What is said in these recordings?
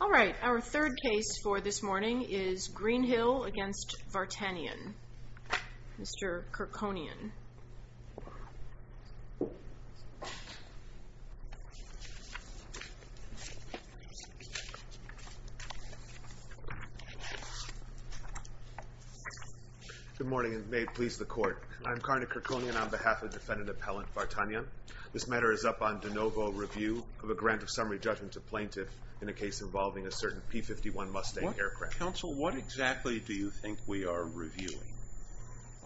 All right, our third case for this morning is Greenhill against Vartanian, Mr. Kirkonian. Good morning, and may it please the court. I'm Karna Kirkonian on behalf of Defendant Appellant Vartanian. This matter is up on de novo review of a grant of summary judgment to plaintiff in a case involving a certain P-51 Mustang aircraft. Counsel, what exactly do you think we are reviewing?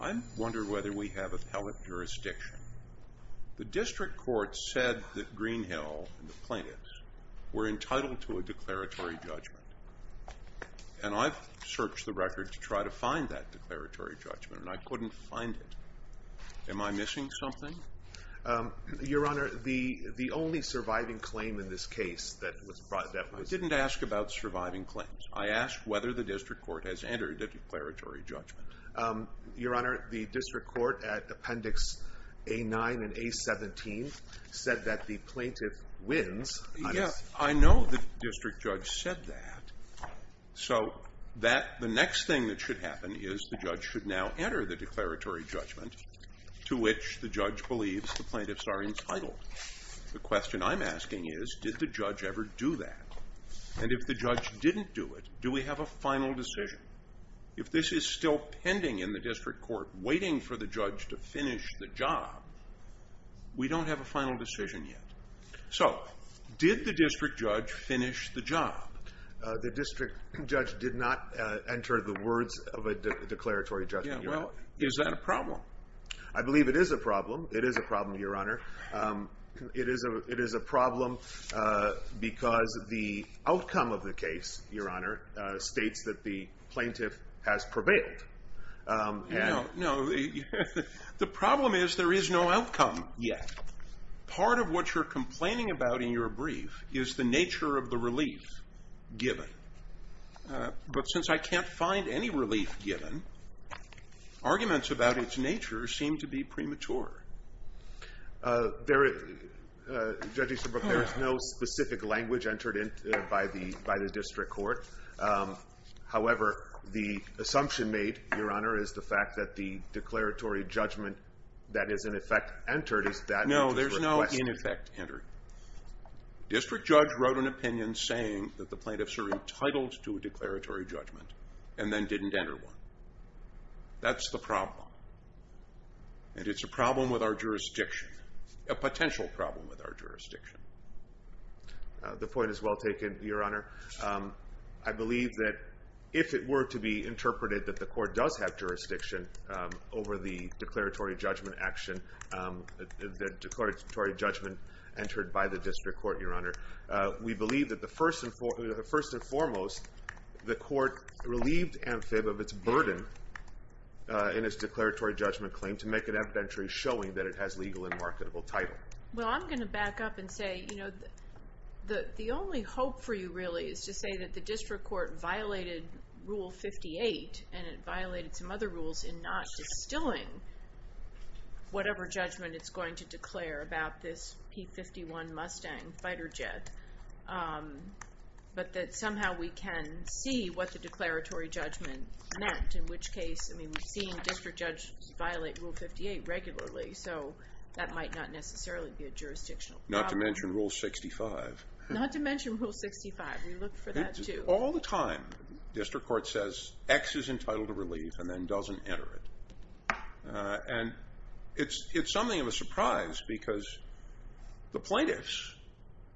I wonder whether we have appellate jurisdiction. The district court said that Greenhill and the plaintiffs were entitled to a declaratory judgment, and I've searched the record to try to find that declaratory judgment, and I couldn't find it. Am I missing something? Your Honor, the only surviving claim in this case that was brought that was... I didn't ask about surviving claims. I asked whether the district court has entered a declaratory judgment. Your Honor, the district court at Appendix A-9 and A-17 said that the plaintiff wins. Yeah, I know the district judge said that, so that the next thing that should happen is the judge should now enter the declaratory judgment to which the judge believes the plaintiffs are entitled. The question I'm asking is, did the judge ever do that? And if the judge didn't do it, do we have a final decision? If this is still pending in the district court, waiting for the judge to finish the job, we don't have a final decision yet. So did the district judge finish the job? The district judge did not enter the words of a declaratory judgment. Yeah, well, is that a problem? I believe it is a problem. It is a problem, Your Honor. It is a problem because the outcome of the case, Your Honor, states that the plaintiff has prevailed. No, the problem is there is no outcome yet. Part of what you're complaining about in your brief is the nature of the relief given. But since I can't find any relief given, arguments about its nature seem to be premature. Judge Easterbrook, there is no specific language entered by the district court. However, the assumption made, Your Honor, is the fact that the declaratory judgment that is, in effect, entered. District judge wrote an opinion saying that the plaintiffs are entitled to a declaratory judgment and then didn't enter one. That's the problem. And it's a problem with our jurisdiction, a potential problem with our jurisdiction. The point is well taken, Your Honor. I believe that if it were to be interpreted that the court does have jurisdiction over the declaratory judgment action, the declaratory judgment entered by the district court, Your Honor. We believe that the first and foremost, the court relieved AmFib of its burden in its declaratory judgment claim to make an evidentiary showing that it has legal and marketable title. Well, I'm going to back up and say, you know, the only hope for you really is to say that the district court violated Rule 58 and it violated some other rules in not distilling whatever judgment it's going to declare about this P-51 Mustang fighter jet, but that somehow we can see what the declaratory judgment meant. In which case, I mean, we've seen district judges violate Rule 58 regularly, so that might not necessarily be a jurisdictional problem. Not to mention Rule 65. Not to mention Rule 65. We look for that too. All the time, district court says X is entitled to relief and then doesn't enter it. And it's something of a surprise because the plaintiffs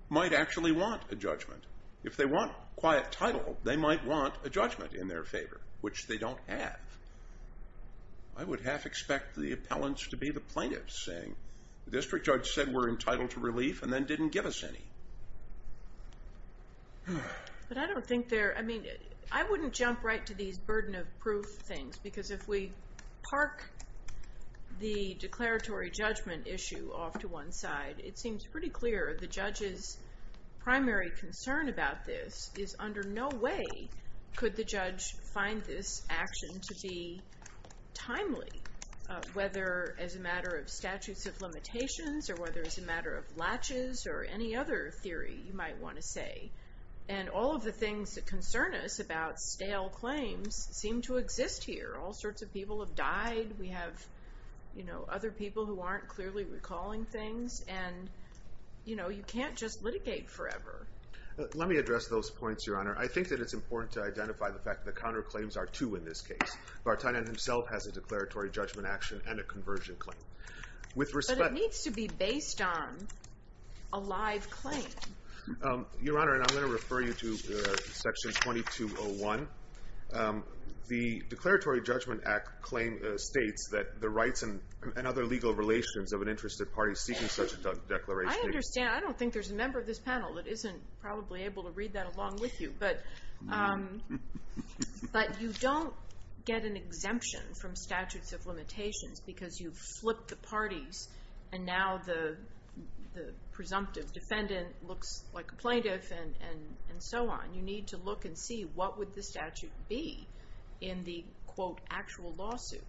might actually want a judgment. If they want quiet title, they might want a judgment in their favor, which they don't have. I would half expect the appellants to be the plaintiffs saying, the district judge said we're entitled to relief and then didn't give us any. But I don't think they're, I mean, I wouldn't jump right to these burden of proof things, because if we park the declaratory judgment issue off to one side, it seems pretty clear the judge's primary concern about this is under no way could the judge find this action to be timely. Whether as a matter of statutes of limitations, or whether as a matter of latches, or any other theory you might want to say. And all of the things that concern us about stale claims seem to exist here. All sorts of people have died. We have, you know, other people who aren't clearly recalling things. And, you know, you can't just litigate forever. Let me address those points, Your Honor. I think that it's important to identify the fact that the counterclaims are two in this case. Vartanian himself has a declaratory judgment action and a conversion claim. But it needs to be based on a live claim. Your Honor, and I'm going to refer you to section 2201. The Declaratory Judgment Act claim states that the rights and other legal relations of an interested party seeking such a declaration. I understand. I don't think there's a member of this panel that isn't probably able to read that along with you. But you don't get an exemption from statutes of limitations because you've flipped the parties and now the presumptive defendant looks like a plaintiff and so on. You need to look and see what would the statute be in the, quote, actual lawsuit.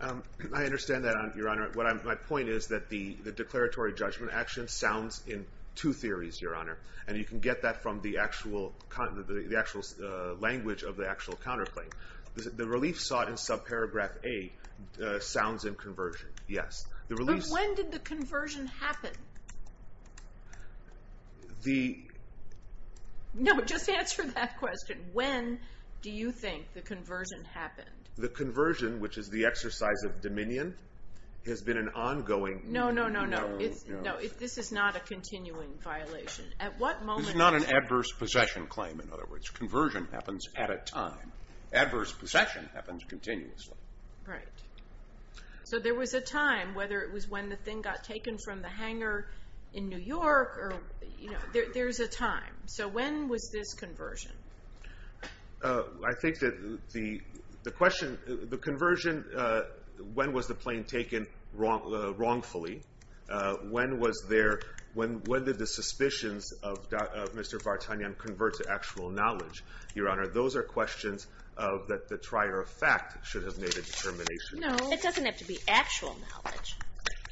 I understand that, Your Honor. My point is that the declaratory judgment action sounds in two theories, Your Honor. And you can get that from the actual language of the actual counterclaim. The relief sought in subparagraph A sounds in conversion. Yes. But when did the conversion happen? The... No, just answer that question. When do you think the conversion happened? The conversion, which is the exercise of dominion, has been an ongoing... No, no, no, no. This is not a continuing violation. At what moment... It's not an adverse possession claim, in other words. Conversion happens at a time. Adverse possession happens continuously. Right. So there was a time, whether it was when the thing got taken from the hangar in New York or... There's a time. So when was this conversion? I think that the question... The conversion... When was the plane taken wrongfully? When was there... When did the suspicions of Mr. Bartanian convert to actual knowledge, Your Honor? Those are questions that the trier of fact should have made a determination. No. It doesn't have to be actual knowledge.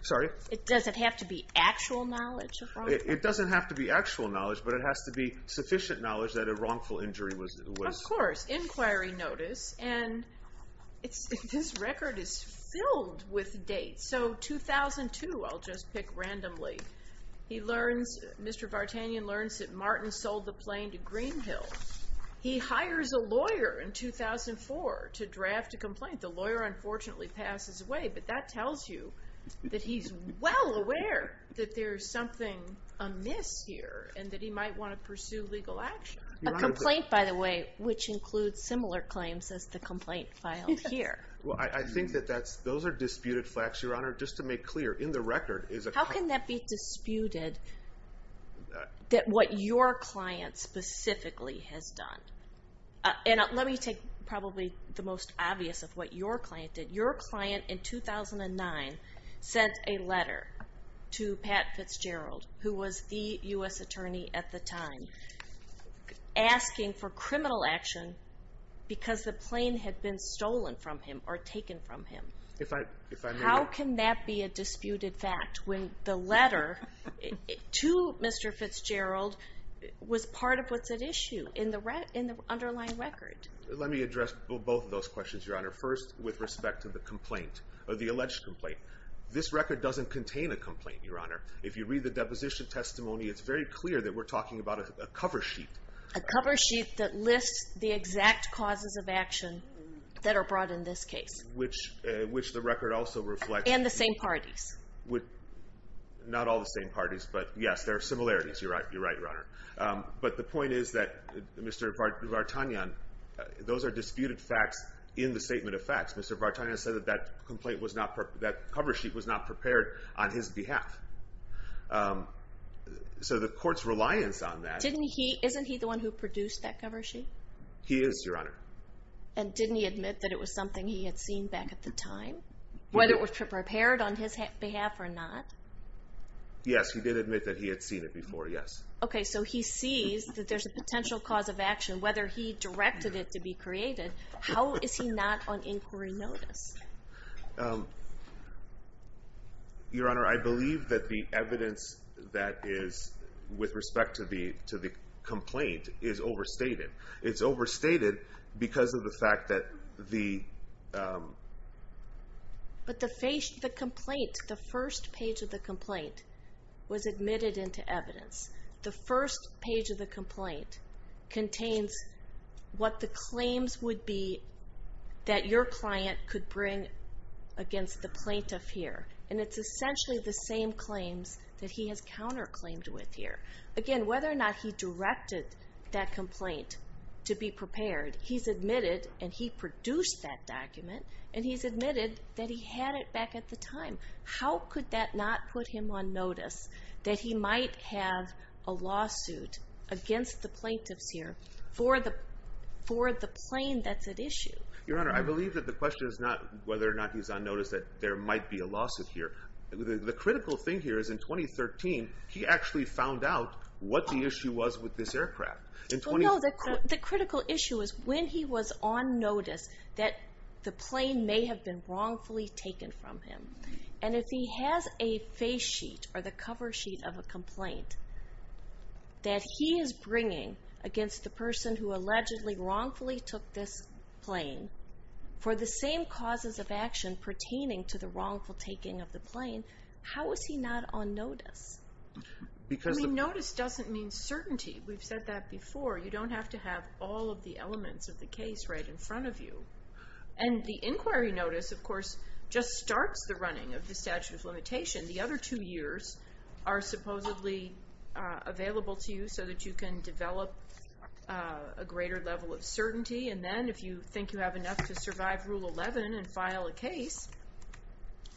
Sorry? It doesn't have to be actual knowledge. It doesn't have to be actual knowledge, but it has to be sufficient knowledge that a wrongful injury was... Of course. Inquiry notice. And this record is filled with dates. So 2002, I'll just pick randomly, Mr. Bartanian learns that Martin sold the plane to Greenhill. He hires a lawyer in 2004 to draft a complaint. The lawyer unfortunately passes away, but that tells you that he's well aware that there's something amiss here and that he might want to pursue legal action. A complaint, by the way, which includes similar claims as the complaint filed here. Well, I think that those are disputed facts, Your Honor. Just to make clear, in the record is a... How can that be disputed that what your client specifically has done? And let me take probably the most obvious of what your client did. Your client in 2009 sent a letter to Pat Fitzgerald, who was the US attorney at the time, asking for criminal action because the plane had been stolen from him or taken from him. If I may... How can that be a disputed fact when the letter to Mr. Fitzgerald was part of what's at issue in the underlying record? Let me address both of those questions, Your Honor. First, with respect to the complaint or the alleged complaint. This record doesn't contain a complaint, Your Honor. If you read the deposition testimony, it's very clear that we're talking about a cover sheet. A cover sheet that lists the exact causes of action that are brought in this case. Which the record also reflects... And the same parties. Not all the same parties, but yes, there are similarities. You're right, Your Honor. But the point is that, Mr. Vartanyan, those are disputed facts in the statement of facts. Mr. Vartanyan said that that complaint was not... That cover sheet was not prepared on his behalf. So the court's reliance on that... Isn't he the one who produced that cover sheet? He is, Your Honor. And didn't he admit that it was something he had seen back at the time? Whether it was prepared on his behalf or not? Yes, he did admit that he had seen it before, yes. Okay, so he sees that there's a potential cause of action, whether he directed it to be created. How is he not on inquiry notice? Your Honor, I believe that the evidence that is with respect to the complaint is overstated. It's overstated because of the fact that the... But the complaint, the first page of the complaint was admitted into evidence. The first claims would be that your client could bring against the plaintiff here. And it's essentially the same claims that he has counter-claimed with here. Again, whether or not he directed that complaint to be prepared, he's admitted and he produced that document, and he's admitted that he had it back at the time. How could that not put him on notice that he might have a lawsuit against the plaintiffs here for the plane that's at issue? Your Honor, I believe that the question is not whether or not he's on notice that there might be a lawsuit here. The critical thing here is in 2013, he actually found out what the issue was with this aircraft. Well, no, the critical issue is when he was on notice that the plane may have been wrongfully taken from him. And if he has a face sheet or the cover sheet of a complaint, that he is bringing against the person who allegedly wrongfully took this plane, for the same causes of action pertaining to the wrongful taking of the plane, how is he not on notice? I mean, notice doesn't mean certainty. We've said that before. You don't have to have all of the elements of the case right in front of you. And the inquiry notice, of course, just available to you so that you can develop a greater level of certainty. And then if you think you have enough to survive Rule 11 and file a case,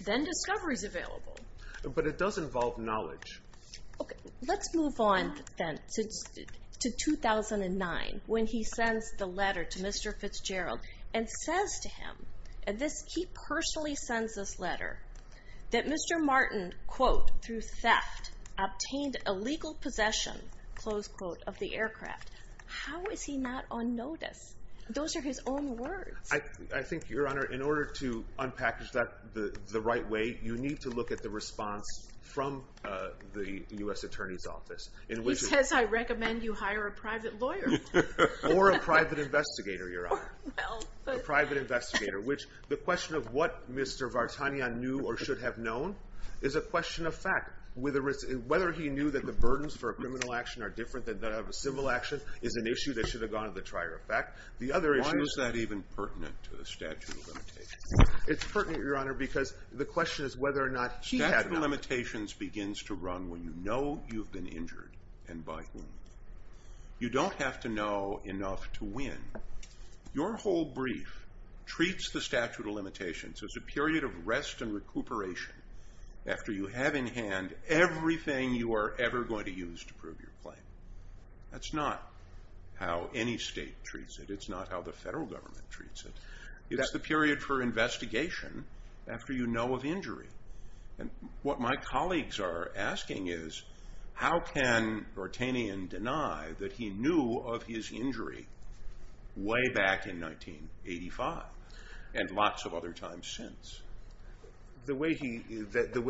then discovery is available. But it does involve knowledge. Okay. Let's move on then to 2009, when he sends the letter to Mr. Fitzgerald and says to him, and he personally sends this letter, that Mr. Martin, quote, through theft, obtained illegal possession, close quote, of the aircraft. How is he not on notice? Those are his own words. I think, Your Honor, in order to unpackage that the right way, you need to look at the response from the U.S. Attorney's Office. He says I recommend you hire a private lawyer. Or a private investigator, Your Honor. A private investigator, which the question of what Mr. Bartanian knew or should have known is a question of fact. Whether he knew that the burdens for a criminal action are different than that of a civil action is an issue that should have gone to the trier of fact. Why is that even pertinent to the statute of limitations? It's pertinent, Your Honor, because the question is whether or not he had not. Statute of limitations begins to run when you know you've been injured and by whom. You don't have to know enough to win. Your whole brief treats the statute of limitations as a rest and recuperation after you have in hand everything you are ever going to use to prove your claim. That's not how any state treats it. It's not how the federal government treats it. It's the period for investigation after you know of injury. What my colleagues are asking is how can Bartanian deny that he knew of his injury way back in 1985 and lots of other times since? The way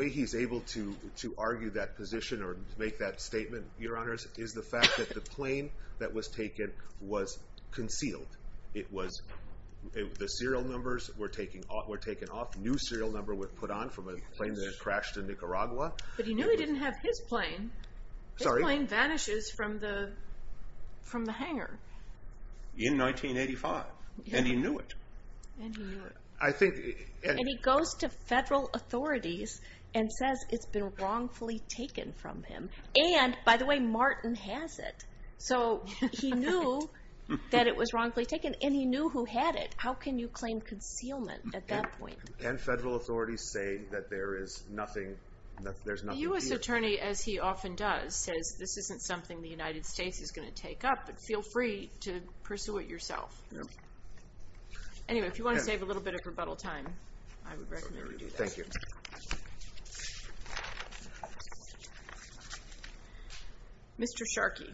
he's able to argue that position or make that statement, Your Honors, is the fact that the plane that was taken was concealed. The serial numbers were taken off. A new serial number was put on from a plane that had crashed in Nicaragua. But he knew he didn't have his plane. His plane vanishes from the hangar. In 1985. And he knew it. And he goes to federal authorities and says it's been wrongfully taken from him. And, by the way, Martin has it. So he knew that it was wrongfully taken and he knew who had it. How can you claim concealment at that point? And federal authorities say that there is nothing. The U.S. attorney, as he often does, says this isn't something the United States is going to to pursue it yourself. Anyway, if you want to save a little bit of rebuttal time, I would recommend you do that. Thank you. Mr. Sharkey.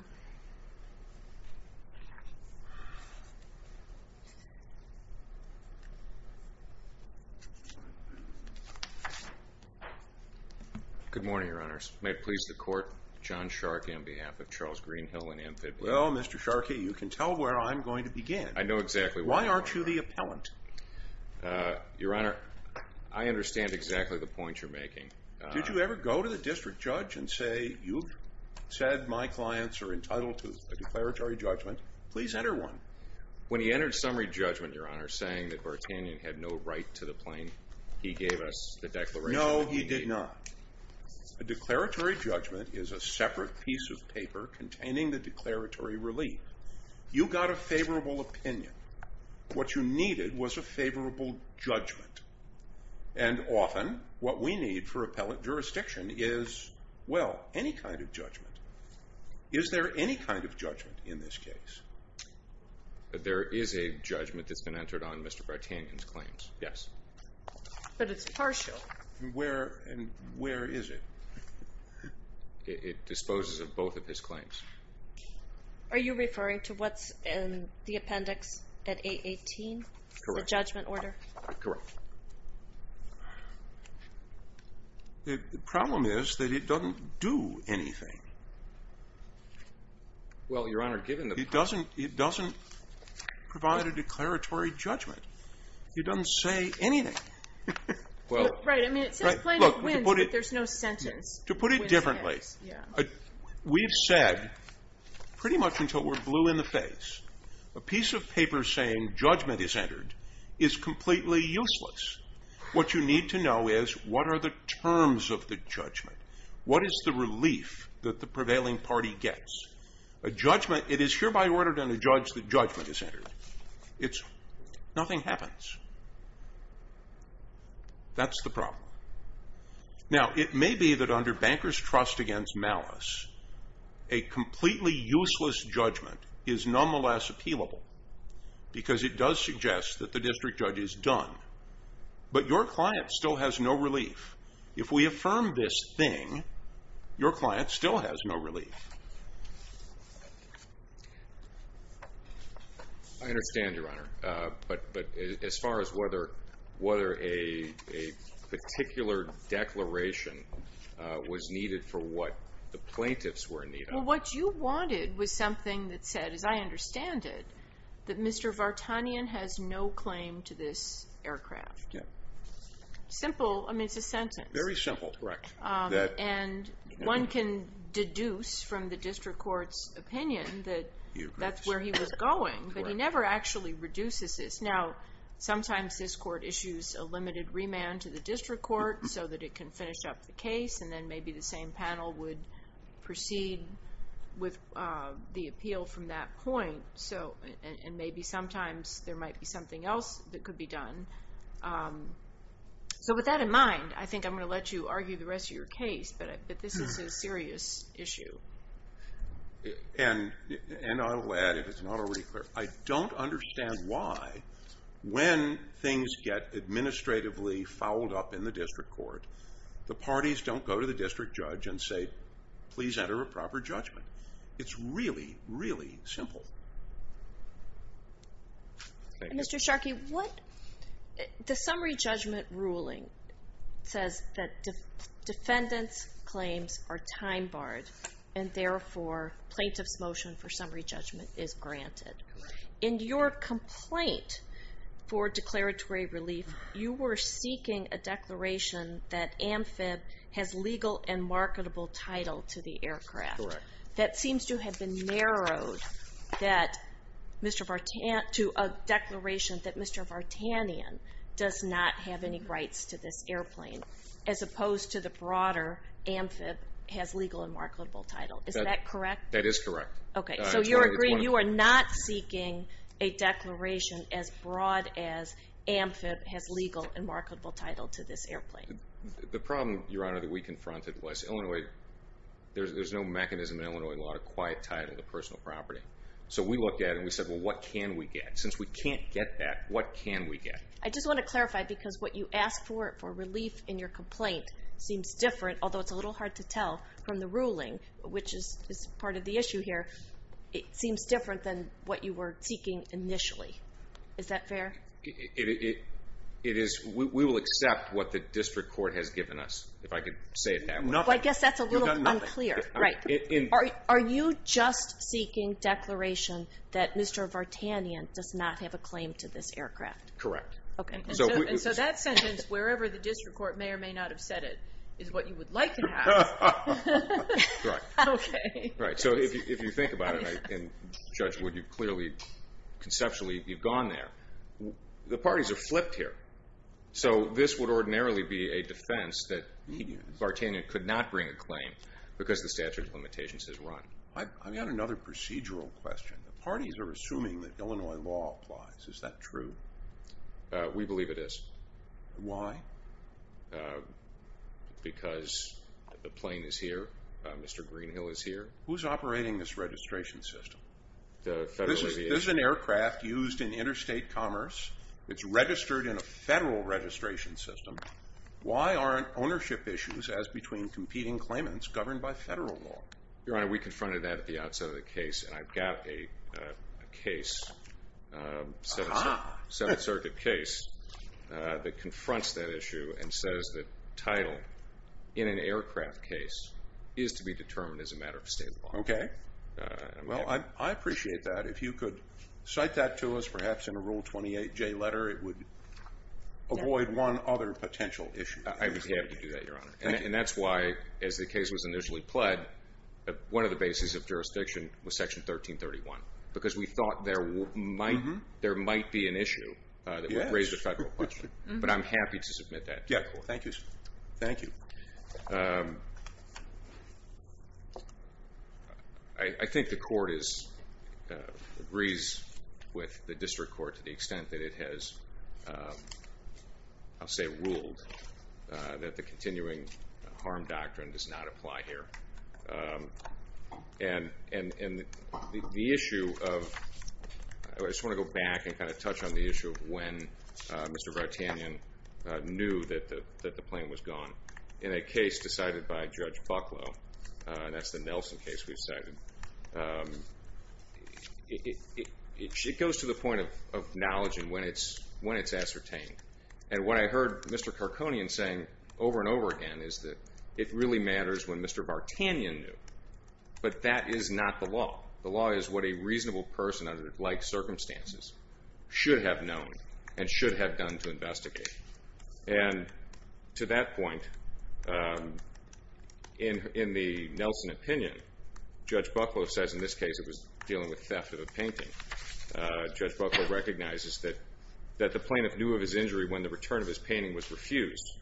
Good morning, Your Honors. May it please the court, John Sharkey on behalf of Charles Greenhill and Amphib. Well, Mr. Sharkey, you can tell where I'm going to begin. I know exactly why. Why aren't you the appellant? Your Honor, I understand exactly the point you're making. Did you ever go to the district judge and say, you said my clients are entitled to a declaratory judgment? Please enter one. When he entered summary judgment, Your Honor, saying that Bartanian had no right to the plane, he gave us the declaration. No, he did not. A declaratory judgment is a separate piece of paper containing the declaratory relief. You got a favorable opinion. What you needed was a favorable judgment. And often what we need for appellate jurisdiction is, well, any kind of judgment. Is there any kind of judgment in this case? There is a judgment that's been entered on Mr. Bartanian's claims. Yes. But it's partial. And where is it? It disposes of both of his claims. Are you referring to what's in the appendix at 818? Correct. The judgment order? Correct. The problem is that it doesn't do anything. Well, Your Honor, given the... It doesn't provide a declaratory judgment. It doesn't say anything. Well... Right. I mean, it says plane of winds, but there's no sentence. To put it differently, we've said, pretty much until we're blue in the face, a piece of paper saying judgment is entered is completely useless. What you need to know is, what are the terms of the judgment? What is the relief that the prevailing party gets? A judgment, it is hereby ordered on a judge that judgment is entered. It's, nothing happens. That's the problem. Now, it may be that under banker's trust against malice, a completely useless judgment is nonetheless appealable, because it does suggest that the district judge is done. But your client still has no relief. If we affirm this thing, your client still has no relief. I understand, Your Honor. But as far as whether a particular declaration was needed for what the plaintiffs were needed... Well, what you wanted was something that said, as I understand it, that Mr. Vartanian has no claim to this aircraft. Yeah. Simple, I mean, it's a sentence. Very simple. Correct. And one can deduce from the district court's opinion that that's where he was going, but he never actually reduces this. Now, sometimes this court issues a limited remand to the district court so that it can finish up the case, and then maybe the same panel would proceed with the appeal from that point. And maybe sometimes there might be something else that could be done. So with that in mind, I think I'm going to let you argue the rest of your case, but this is a serious issue. And I will add, if it's not already clear, I don't understand why, when things get administratively fouled up in the district court, the parties don't go to the district judge and say, please enter a proper judgment. It's really, really simple. Mr. Sharkey, the summary judgment ruling says that defendants' claims are time barred and therefore, plaintiff's motion for summary judgment is granted. Correct. In your complaint for declaratory relief, you were seeking a declaration that AmFib has legal and marketable title to the aircraft. Correct. That seems to have been narrowed to a declaration that Mr. Vartanian does not have any rights to this airplane, as opposed to the broader AmFib has legal and marketable title. Is that correct? That is correct. Okay. So you're agreeing, you are not seeking a declaration as broad as AmFib has legal and marketable title to this airplane. The problem, Your Honor, that we confronted was Illinois, there's no mechanism in Illinois law to quiet title the personal property. So we looked at it and we said, well, what can we get? Since we can't get that, what can we get? I just want to clarify because what you asked for, for relief in your complaint seems different, although it's a little hard to tell from the ruling, which is part of the issue here. It seems different than what you were seeking initially. Is that fair? It is. We will accept what the district court has given us, if I could say it that way. I guess that's a little unclear. Are you just seeking declaration that Mr. Vartanian does not have a claim to this aircraft? Correct. Okay. And so that sentence, wherever the district court may or may not have said it, is what you would like to have. Right. Okay. Right. So if you think about it, and Judge Wood, you've clearly, conceptually, you've gone there. The parties are flipped here. So this would ordinarily be a defense that Vartanian could not bring a claim because the statute of limitations has run. I've got another procedural question. The parties are assuming that Illinois law applies. Is that true? We believe it is. Why? Because the plane is here. Mr. Greenhill is here. Who's operating this registration system? The Federal Aviation. This is an aircraft used in interstate commerce. It's registered in a federal registration system. Why aren't ownership issues, as between competing claimants, governed by federal law? Your Honor, we confronted that at the outset of the case. And I've got a case, a Seventh Circuit case, that confronts that issue and says the title in an aircraft case is to be determined as a matter of state law. Okay. Well, I appreciate that. If you could cite that to us, perhaps in a Rule 28J letter, it would avoid one other potential issue. I would be happy to do that, Your Honor. And that's why, as the case was initially pled, one of the bases of jurisdiction was Section 1331. Because we thought there might be an issue that would raise the federal question. But I'm happy to submit that to the court. Thank you. I think the court agrees with the district court to the extent that it has, I'll say, ruled that the continuing harm doctrine does not apply here. And the issue of, I just want to go back and kind of touch on the issue of when Mr. Bartanian knew that the claim was gone. In a case decided by Judge Bucklow, that's the Nelson case we've cited, it goes to the point of knowledge and when it's ascertained. And what I heard Mr. Karkonian saying over and over again is that it really matters when Mr. Bartanian knew. But that is not the law. The law is what a reasonable person under like circumstances should have known and should have done to investigate. And to that point, in the Nelson opinion, Judge Bucklow says in this case it was dealing with theft of a painting. Judge Bucklow recognizes that the plaintiff knew of his injury when the return of his painting was refused.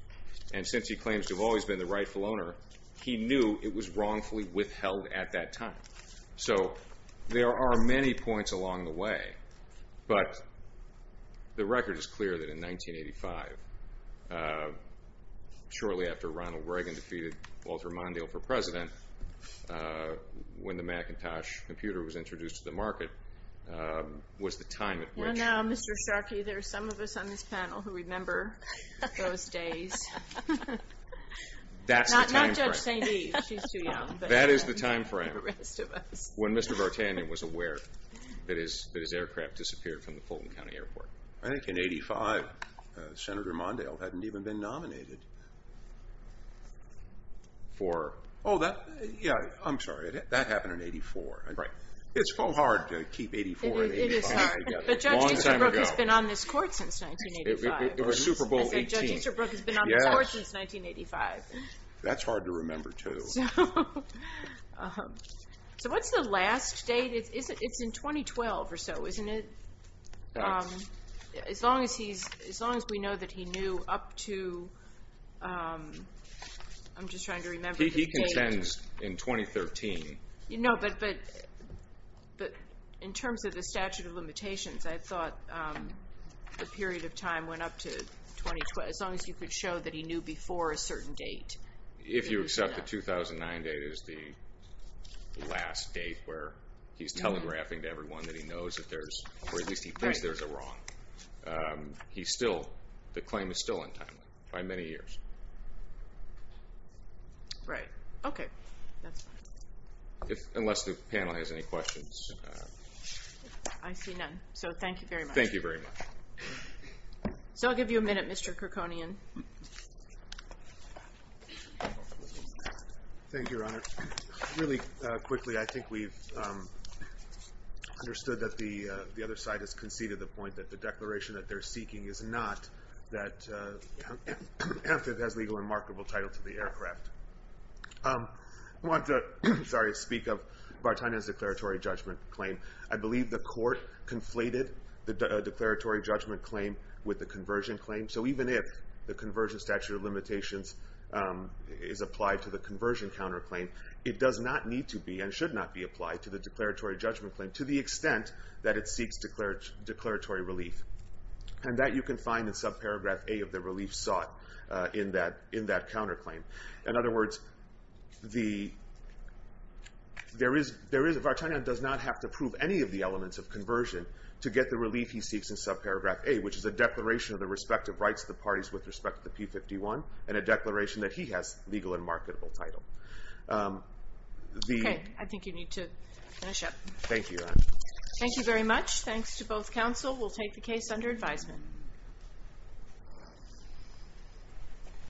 And since he claims to have always been the rightful owner, he knew it was wrongfully withheld at that time. So there are many points along the way. But the record is clear that in 1985, shortly after Ronald Reagan defeated Walter Mondale for president, when the Macintosh computer was introduced to the market, was the time at which- Not Judge St. D, she's too young. That is the time frame when Mr. Bartanian was aware that his aircraft disappeared from the Fulton County Airport. I think in 85, Senator Mondale hadn't even been nominated for- Oh, yeah, I'm sorry. That happened in 84. It's so hard to keep 84 and 85 together. But Judge Easterbrook has been on this court since 1985. It was Super Bowl XVIII. Judge Easterbrook has been on this court since 1985. That's hard to remember, too. So what's the last date? It's in 2012 or so, isn't it? As long as we know that he knew up to... I'm just trying to remember the date. He contends in 2013. No, but in terms of the statute of limitations, I thought the period of time went up to 2012. As long as you could show that he knew before a certain date. If you accept the 2009 date is the last date where he's telegraphing to everyone that he knows that there's, or at least he thinks there's a wrong. The claim is still untimely by many years. Right. Okay, that's fine. Unless the panel has any questions. I see none. Thank you very much. Thank you very much. I'll give you a minute, Mr. Kerkonian. Thank you, Your Honor. Really quickly, I think we've understood that the other side has conceded the point that the declaration that they're seeking is not that Amphib has legal and marketable title to the aircraft. I want to speak of Bartania's declaratory judgment claim. I believe the court conflated the declaratory judgment claim with the conversion claim. So even if the conversion statute of limitations is applied to the conversion counterclaim, it does not need to be and should not be applied to the declaratory judgment claim to the extent that it seeks declaratory relief. And that you can find in subparagraph A of the relief sought in that counterclaim. In other words, there is, Bartania does not have to prove any of the elements of conversion to get the relief he seeks in subparagraph A, which is a declaration of the respective rights of the parties with respect to the P-51 and a declaration that he has legal and marketable title. Okay, I think you need to finish up. Thank you, Your Honor. Thank you very much. Thanks to both counsel. We'll take the case under advisement.